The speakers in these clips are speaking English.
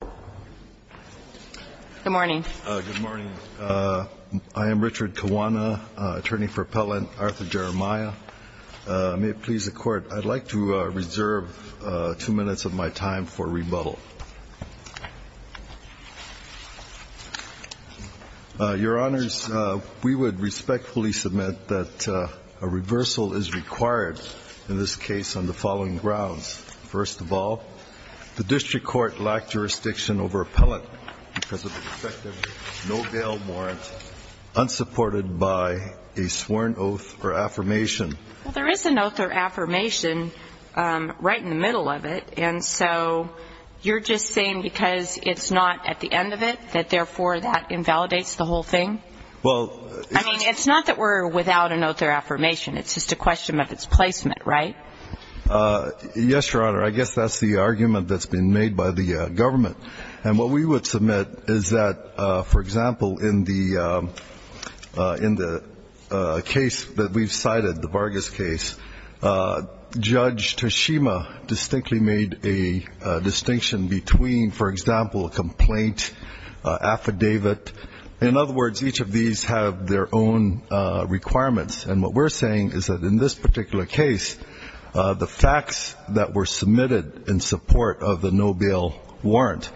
May it please the Court, I'd like to reserve two minutes of my time for rebuttal. Your Honors, we would respectfully submit that a reversal is required in this case on the following grounds. First of all, the District Court lacked jurisdiction to over-appellate because of an effective no-bail warrant, unsupported by a sworn oath or affirmation. Well, there is an oath or affirmation right in the middle of it, and so you're just saying because it's not at the end of it, that therefore that invalidates the whole thing? Well, it's I mean, it's not that we're without an oath or affirmation, it's just a question of its placement, right? Yes, Your Honor. I guess that's the argument that's been made by the government. And what we would submit is that, for example, in the case that we've cited, the Vargas case, Judge Toshima distinctly made a distinction between, for example, a complaint affidavit. In other words, each of these have their own requirements. And what we're saying is that, in this particular case, the facts that were submitted in support of the no-bail warrant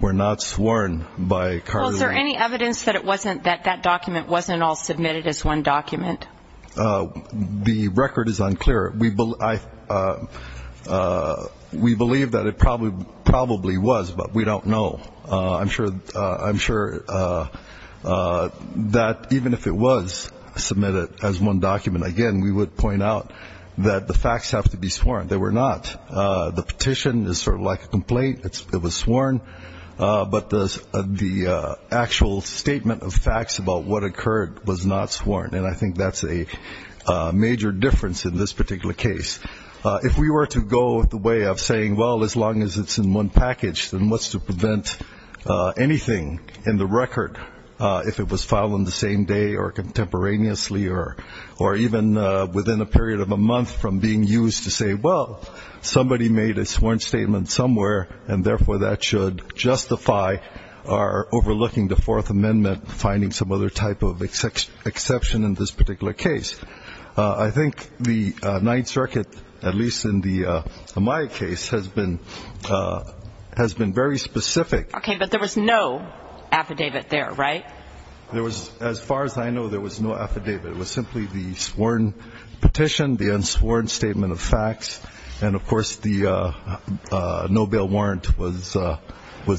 were not sworn by Carly Lane. Well, is there any evidence that it wasn't, that that document wasn't all submitted as one document? The record is unclear. We believe that it probably was, but we don't know. I'm sure that the facts that were submitted in support of the no-bail warrant were not, even if it was submitted as one document. Again, we would point out that the facts have to be sworn. They were not. The petition is sort of like a complaint, it was sworn, but the actual statement of facts about what occurred was not sworn. And I think that's a major difference in this particular case. If we were to go the way of saying, well, as long as it's in one package, then what's to prevent anything in the record if it was filed in the same way? If it was filed in the same day or contemporaneously or even within a period of a month from being used to say, well, somebody made a sworn statement somewhere, and therefore that should justify our overlooking the Fourth Amendment, finding some other type of exception in this particular case. I think the Ninth Circuit, at least in the Amaya case, has been very specific. Okay. But there was no affidavit there, right? As far as I know, there was no affidavit. It was simply the sworn petition, the unsworn statement of facts, and, of course, the no-bail warrant was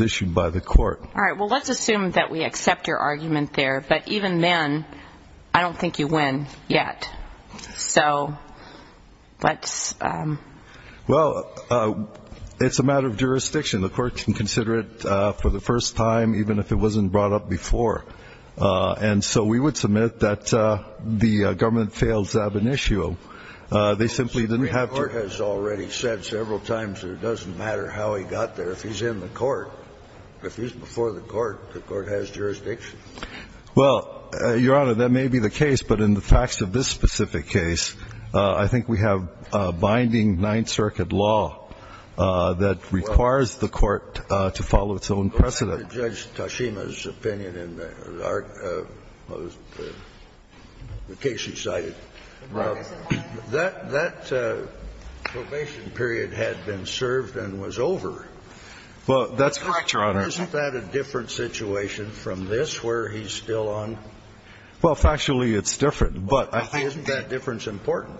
issued by the court. All right. Well, let's assume that we accept your argument there, but even then, I don't think you win yet. So let's... Well, it's a matter of jurisdiction. The court can consider it for the first time, even if it wasn't brought up before. And so we would submit that the government failed Zabinishio. They simply didn't have to... The Supreme Court has already said several times that it doesn't matter how he got there. If he's in the court, if he's before the court, the court has jurisdiction. Well, Your Honor, that may be the case, but in the facts of this specific case, I think we have binding Ninth Circuit law that requires the court to follow its own precedent. Well, going back to Judge Tashima's opinion in the case he cited, that probation period had been served and was over. Well, that's correct, Your Honor. Isn't that a different situation from this, where he's still on? Well, factually, it's different, but I think... Isn't that difference important?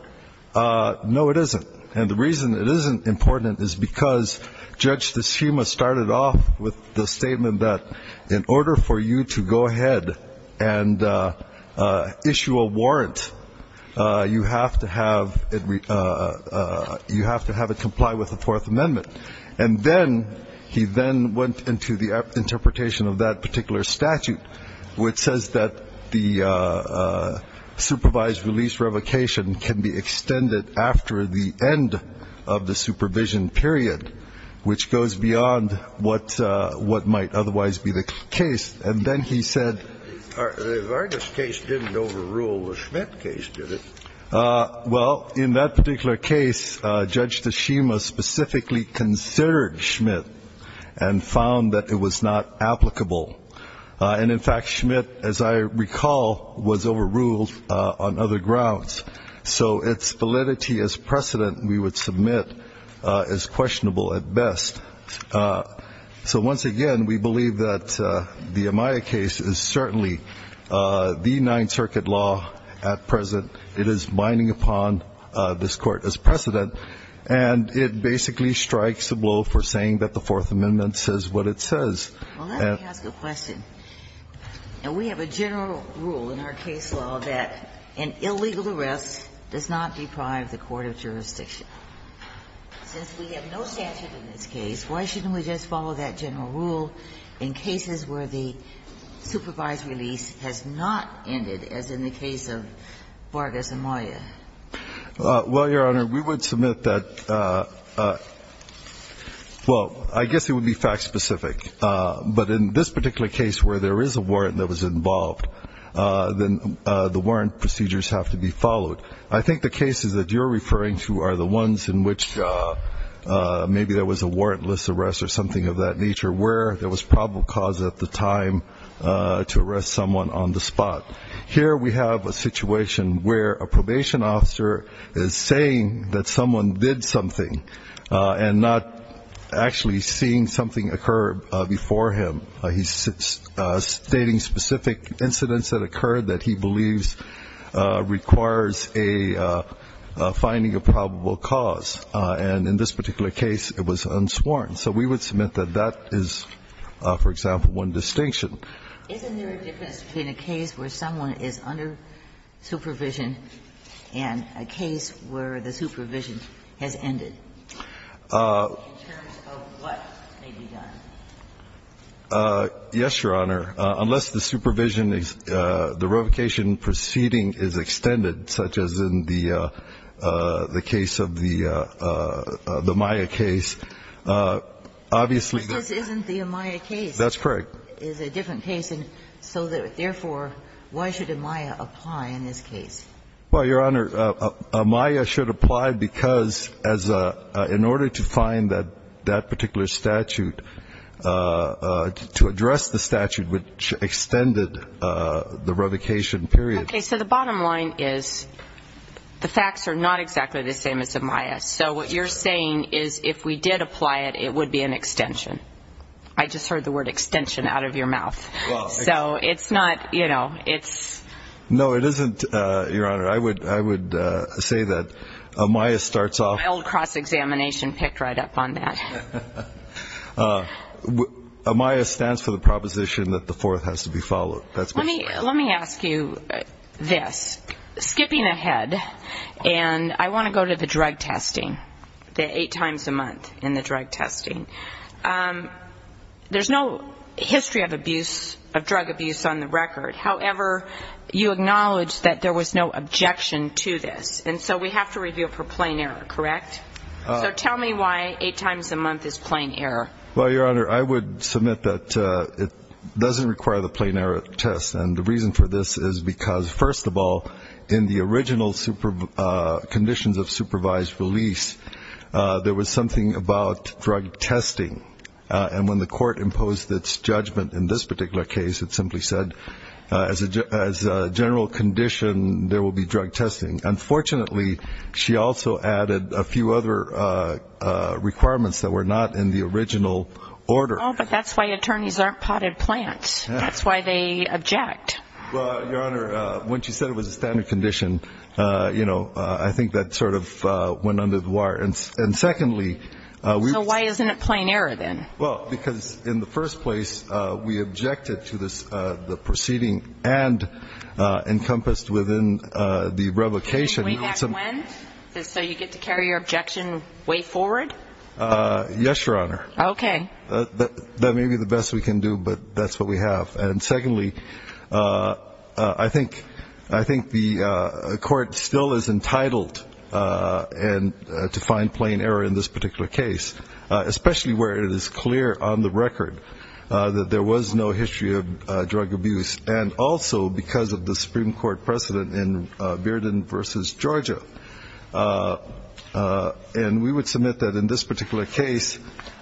No, it isn't. And the reason it isn't important is because Judge Tashima started off with the statement that in order for you to go ahead and issue a warrant, you have to have it comply with the Fourth Amendment. And then he then went into the interpretation of that particular statute, which says that the warrant has to be extended after the end of the supervision period, which goes beyond what might otherwise be the case. And then he said... The Vargas case didn't overrule the Schmidt case, did it? Well, in that particular case, Judge Tashima specifically considered Schmidt and found that it was not applicable. And, in fact, Schmidt, as I recall, was overruled on other grounds. So its validity as precedent, we would submit, is questionable at best. So once again, we believe that the Amaya case is certainly the Ninth Circuit law at present. It is binding upon this Court as precedent, and it basically strikes a blow for saying that the Fourth Amendment says what it says. And that's why we believe in our case law that an illegal arrest does not deprive the court of jurisdiction. Since we have no statute in this case, why shouldn't we just follow that general rule in cases where the supervised release has not ended, as in the case of Vargas and Amaya? Well, Your Honor, we would submit that, well, I guess it would be fact-specific. But in this particular case, where there is a warrant that was involved, then the warrant procedures have to be followed. I think the cases that you're referring to are the ones in which maybe there was a warrantless arrest or something of that nature, where there was probable cause at the time to arrest someone on the spot. Here we have a situation where a probation officer is saying that someone did something, and not actually seeing something occur before him. He's stating specific incidents that occurred that he believes requires a finding of probable cause. And in this particular case, it was unsworn. So we would submit that that is, for example, one distinction. Isn't there a difference between a case where someone is under supervision and a case where the supervision has ended in terms of what may be done? Yes, Your Honor. Unless the supervision is the revocation proceeding is extended, such as in the case of the Amaya case, obviously there's not. This isn't the Amaya case. That's correct. It's a different case. So therefore, why should Amaya apply in this case? Well, Your Honor, Amaya should apply because as a – in order to find that particular statute, to address the statute which extended the revocation period. Okay. So the bottom line is the facts are not exactly the same as Amaya. So what you're saying is if we did apply it, it would be an extension. I just heard the word extension out of your mouth. So it's not, you know, it's... No, it isn't, Your Honor. I would say that Amaya starts off... Amaya stands for the proposition that the fourth has to be followed. Let me ask you this. Skipping ahead, and I want to go to the drug testing, the eight times a month in the drug testing. There's no history of abuse, of drug abuse on the record. However, you acknowledge that there was no objection to this. And so we have to review it for plain error, correct? So tell me why eight times a month is plain error. Well, Your Honor, I would submit that it doesn't require the plain error test. And the reason for this is because, first of all, in the original conditions of supervised release, there was something about drug testing. And when the court imposed its judgment in this particular case, it simply said as a general condition, there will be drug testing. Unfortunately, she also added a few other requirements that were not in the original order. Oh, but that's why attorneys aren't potted plants. That's why they object. Well, Your Honor, when she said it was a standard condition, you know, I think that sort of went under the wire. And secondly, we... So why isn't it plain error then? Well, because in the first place, we objected to the proceeding and encompassed within the revocation. So you get to carry your objection way forward? Yes, Your Honor. Okay. That may be the best we can do, but that's what we have. And secondly, I think the court still is entitled to find plain error in this particular case, especially where it is clear on the record that there was no history of drug abuse, and also because of the Supreme Court precedent in Bearden v. Georgia. And we would submit that in this particular case,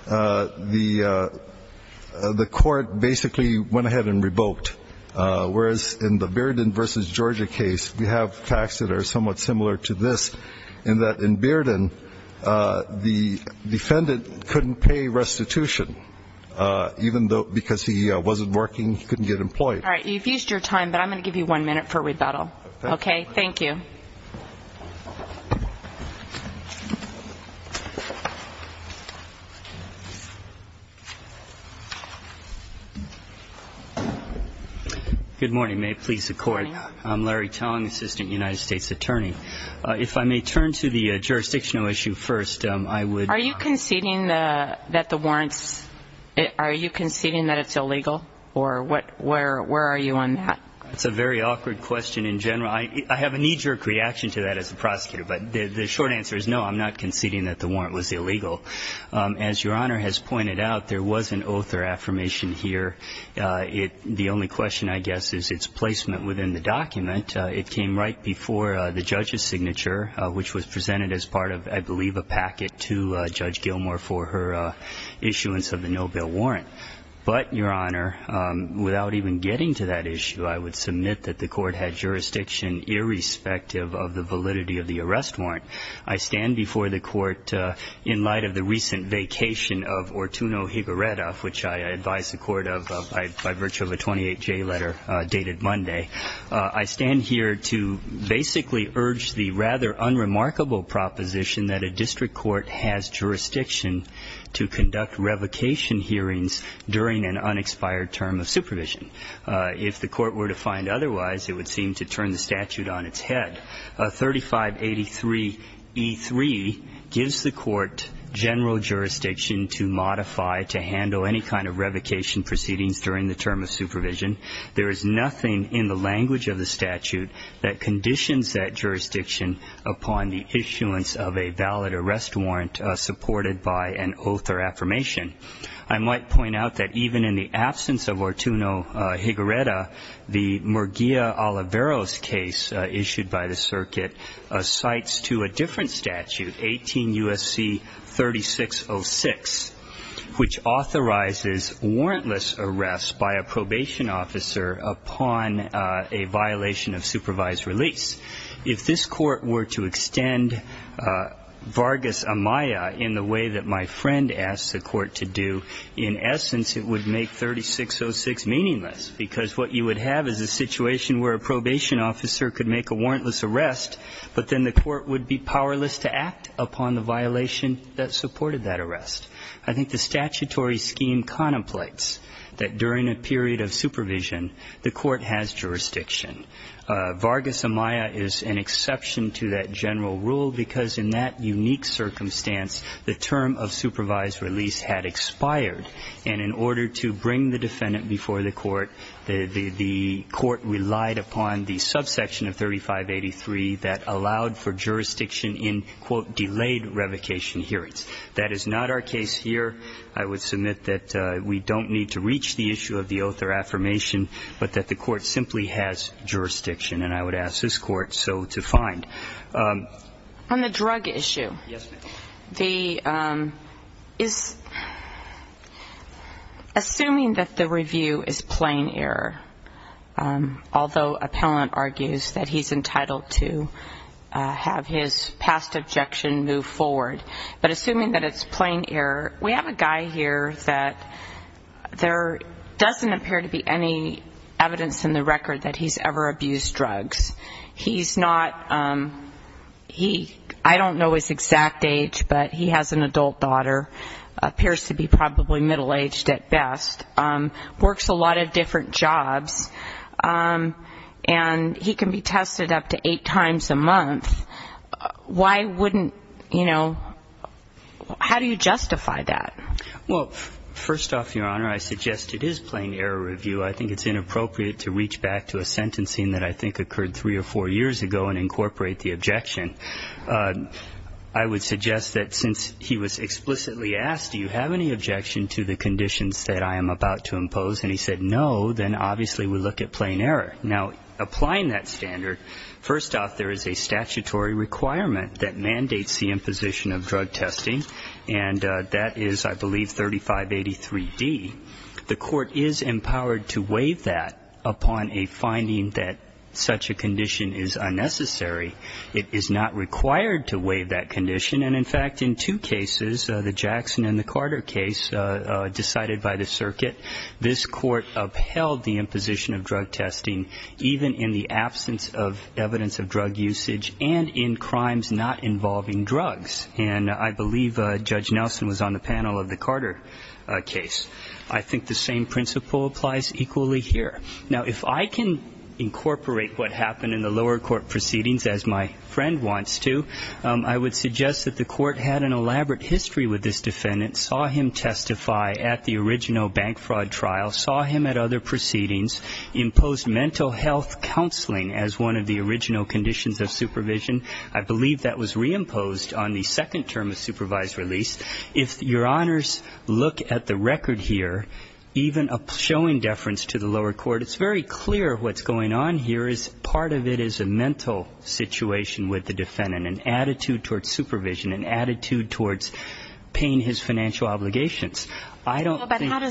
the court basically went ahead and revoked, whereas in the Bearden v. Georgia case, we have facts that are somewhat similar to this, in that in Bearden, the defendant couldn't pay restitution, even though because he wasn't working, he couldn't get employed. All right. You've used your time, but I'm going to give you one minute for rebuttal. Okay. Thank you. Good morning. May it please the Court. I'm Larry Tong, Assistant United States Attorney. If I may turn to the jurisdictional issue first, I would – Are you conceding that the warrants – are you conceding that it's illegal, or what – where are you on that? That's a very awkward question in general. I have a knee-jerk reaction to that as a prosecutor, but the short answer is no, I'm not conceding that the warrant was illegal. As Your Honor has pointed out, there was an oath or affirmation here. The only question, I guess, is its placement within the document. It came right before the judge's signature, which was presented as part of, I believe, a packet to Judge Gilmour for her issuance of the no-bill warrant. But, Your Honor, without even getting to that issue, I would submit that the Court had jurisdiction irrespective of the validity of the arrest warrant. I stand before the Court in light of the recent vacation of Ortuno Higaretta, which I advise the Court of by virtue of a 28-J letter dated Monday. I stand here to basically urge the rather unremarkable proposition that a district court has jurisdiction to conduct revocation hearings during an unexpired term of supervision. If the Court were to find otherwise, it would seem to turn the statute on its head. 3583e3 gives the Court general jurisdiction to modify, to handle any kind of revocation proceedings during the term of supervision. There is nothing in the language of the statute that conditions that jurisdiction upon the issuance of a valid arrest warrant supported by an oath or affirmation. I might point out that even in the absence of Ortuno Higaretta, the Murguia Oliveros case issued by the circuit cites to a different statute, 18 U.S.C. 3606, which authorizes warrantless arrest by a probation officer upon a violation of supervised release. If this Court were to extend Vargas Amaya in the way that my friend asked the Court to do, in essence, it would make 3606 meaningless, because what you would have is a situation where a probation officer could make a warrantless arrest, but then the Court would be powerless to act upon the violation that supported that arrest. I think the statutory scheme contemplates that during a period of supervision, the Court has jurisdiction. Vargas Amaya is an exception to that general rule, because in that unique circumstance, the term of supervised release had expired. And in order to bring the defendant before the Court, the Court relied upon the subsection of 3583 that allowed for jurisdiction in, quote, delayed revocation hearings. That is not our case here. I would submit that we don't need to reach the issue of the oath or affirmation, but that the Court simply has jurisdiction. And I would ask this Court so to find. On the drug issue, the – is – assuming that the review is plain error, although appellant argues that he's entitled to have his past objection move forward, but assuming that it's plain error, we have a guy here that there doesn't appear to be any evidence in the record that he's ever abused drugs. He's not – he – I don't know his exact age, but he has an adult daughter, appears to be probably middle-aged at best, works a lot of different jobs, and he can be tested up to eight times a month. Why wouldn't – you know, how do you justify that? Well, first off, Your Honor, I suggest it is plain error review. I think it's inappropriate to reach back to a sentencing that I think occurred three or four years ago and incorporate the objection. I would suggest that since he was explicitly asked, do you have any objection to the conditions that I am about to impose, and he said no, then obviously we look at plain error. Now, applying that standard, first off, there is a statutory requirement that mandates the imposition of drug testing, and that is, I believe, 3583D. The court is empowered to waive that upon a finding that such a condition is unnecessary. It is not required to waive that condition, and, in fact, in two cases, the Jackson and the Carter case decided by the circuit, this court upheld the imposition of drug testing, even in the absence of evidence of drug usage and in crimes not involving drugs. And I believe Judge Nelson was on the panel of the Carter case. I think the same principle applies equally here. Now, if I can incorporate what happened in the lower court proceedings, as my friend wants to, I would suggest that the court had an elaborate history with this defendant, saw him testify at the original bank fraud trial, saw him at other proceedings, imposed mental health counseling as one of the original conditions of supervision. I believe that was reimposed on the second term of supervised release. If Your Honors look at the record here, even a showing deference to the lower court, it's very clear what's going on here is part of it is a mental situation with the defendant, an attitude towards supervision, an attitude towards paying his financial obligations. I don't think that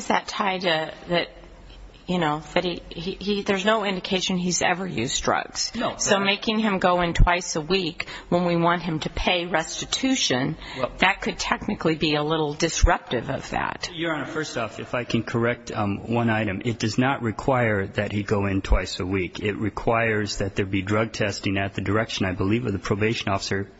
he he there's no indication he's ever used drugs. So making him go in twice a week when we want him to pay restitution, that could technically be a little disruptive of that. Your Honor, first off, if I can correct one item. It does not require that he go in twice a week. It requires that there be drug testing at the direction, I believe, of the probation officer,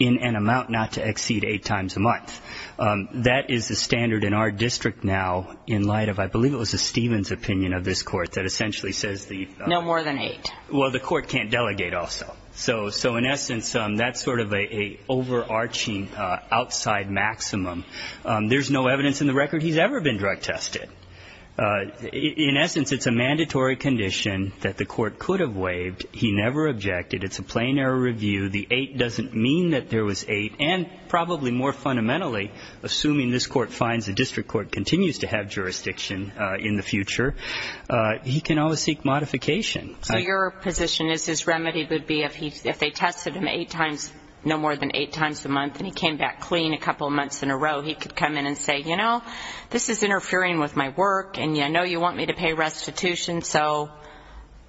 in an amount not to exceed eight times a month. That is the standard in our district now in light of, I believe it was a Stevens opinion of this court, that essentially says the- No more than eight. Well, the court can't delegate also. So in essence, that's sort of an overarching outside maximum. There's no evidence in the record he's ever been drug tested. In essence, it's a mandatory condition that the court could have waived. He never objected. It's a plain error review. The eight doesn't mean that there was eight, and probably more fundamentally, assuming this court finds the district court continues to have jurisdiction in the future, he can always seek modification. So your position is his remedy would be if they tested him eight times, no more than eight times a month, and he came back clean a couple of months in a row, he could come in and say, you know, this is interfering with my work, and I know you want me to pay restitution, so,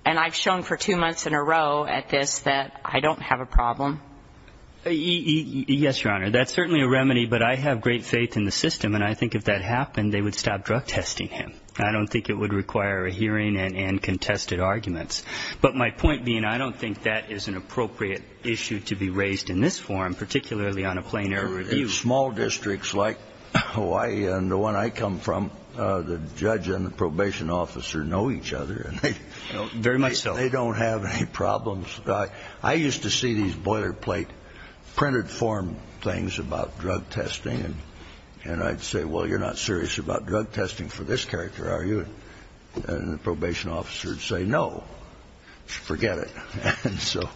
and I've shown for two months in a row at this that I don't have a problem. Yes, Your Honor. That's certainly a remedy, but I have great faith in the system, and I think if that happened, they would stop drug testing him. I don't think it would require a hearing and contested arguments. But my point being, I don't think that is an appropriate issue to be raised in this forum, particularly on a plain error review. Small districts like Hawaii and the one I come from, the judge and the probation officer know each other. Very much so. They don't have any problems. I used to see these boilerplate printed form things about drug testing, and I'd say, well, you're not serious about drug testing for this character, are you? And the probation officer would say, no, forget it. And so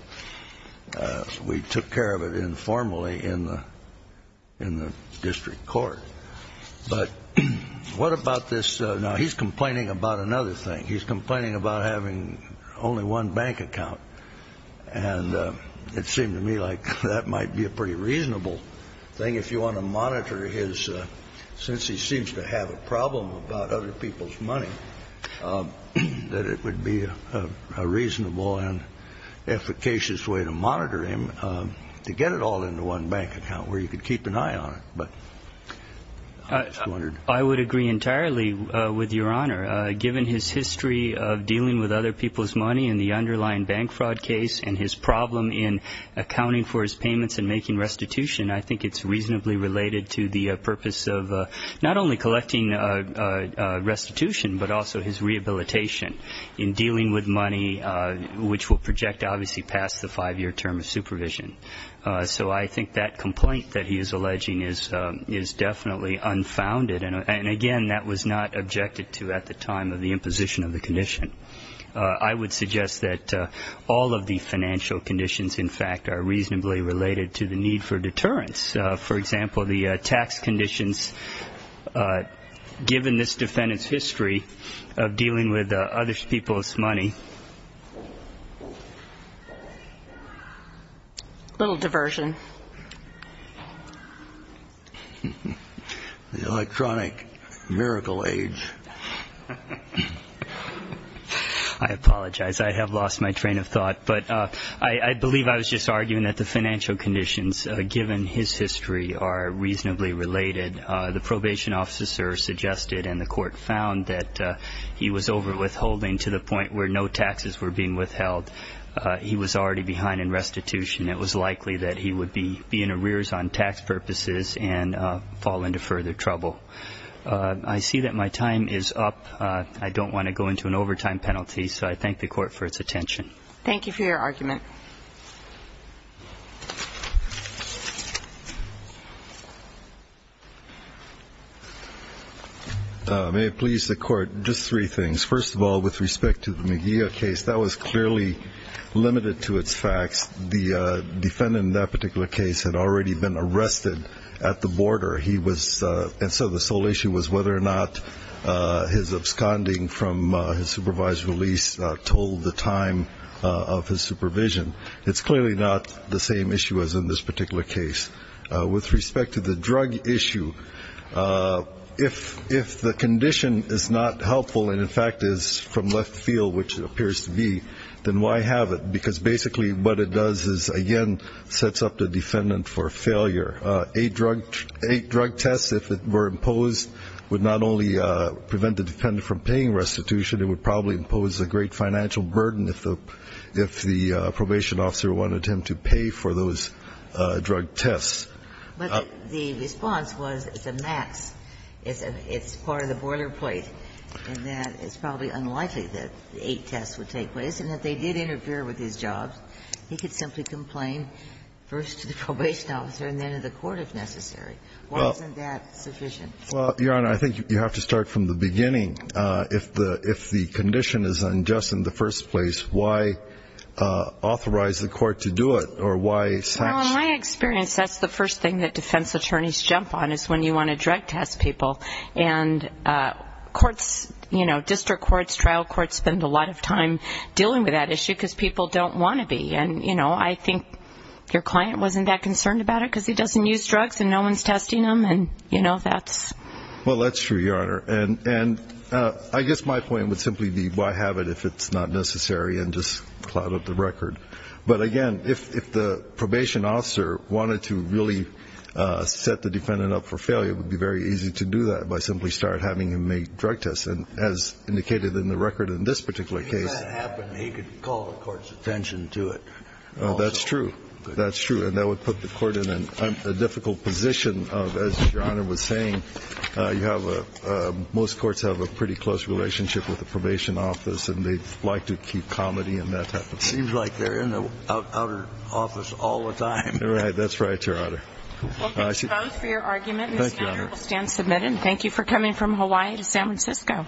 we took care of it informally in the district court. But what about this? Now, he's complaining about another thing. He's complaining about having only one bank account, and it seemed to me like that might be a pretty reasonable thing if you want to monitor his, since he seems to have a problem about other people's money, that it would be a reasonable and efficacious way to monitor him, to get it all into one bank account where you could keep an eye on it. But I just wondered. I would agree entirely with Your Honor. Given his history of dealing with other people's money in the underlying bank fraud case and his problem in accounting for his payments and making restitution, I think it's reasonably related to the purpose of not only collecting restitution but also his rehabilitation in dealing with money, which will project obviously past the five-year term of supervision. So I think that complaint that he is alleging is definitely unfounded. And, again, that was not objected to at the time of the imposition of the condition. I would suggest that all of the financial conditions, in fact, are reasonably related to the need for deterrence. For example, the tax conditions, given this defendant's history of dealing with other people's money. A little diversion. The electronic miracle age. I apologize. I have lost my train of thought. I believe I was just arguing that the financial conditions, given his history, are reasonably related. The probation officer suggested, and the court found, that he was overwithholding to the point where no taxes were being withheld. He was already behind in restitution. It was likely that he would be in arrears on tax purposes and fall into further trouble. I see that my time is up. I don't want to go into an overtime penalty, so I thank the court for its attention. Thank you for your argument. May it please the court, just three things. First of all, with respect to the Mejia case, that was clearly limited to its facts. The defendant in that particular case had already been arrested at the border, and so the sole issue was whether or not his absconding from his supervised release told the time of his supervision. It's clearly not the same issue as in this particular case. With respect to the drug issue, if the condition is not helpful and, in fact, is from left field, which it appears to be, then why have it? Because basically what it does is, again, sets up the defendant for failure. Eight drug tests, if it were imposed, would not only prevent the defendant from paying restitution, it would probably impose a great financial burden if the probation officer wanted him to pay for those drug tests. But the response was it's a max, it's part of the boilerplate, and that it's probably unlikely that eight tests would take place and that they did interfere with his job. He could simply complain first to the probation officer and then to the court if necessary. Why isn't that sufficient? Well, Your Honor, I think you have to start from the beginning. If the condition is unjust in the first place, why authorize the court to do it or why sanction? Well, in my experience, that's the first thing that defense attorneys jump on is when you want to drug test people. And courts, you know, district courts, trial courts, spend a lot of time dealing with that issue because people don't want to be. And, you know, I think your client wasn't that concerned about it because he doesn't use drugs and no one's testing him, and, you know, that's... Well, that's true, Your Honor. And I guess my point would simply be why have it if it's not necessary and just cloud up the record. But, again, if the probation officer wanted to really set the defendant up for failure, it would be very easy to do that by simply start having him make drug tests. And as indicated in the record in this particular case... If that happened, he could call the court's attention to it. That's true. That's true. And that would put the court in a difficult position of, as Your Honor was saying, most courts have a pretty close relationship with the probation office and they like to keep comedy in that type of thing. Seems like they're in the outer office all the time. Right. That's right, Your Honor. Well, thank you both for your argument. Thank you, Your Honor. And this matter will stand submitted. And thank you for coming from Hawaii to San Francisco.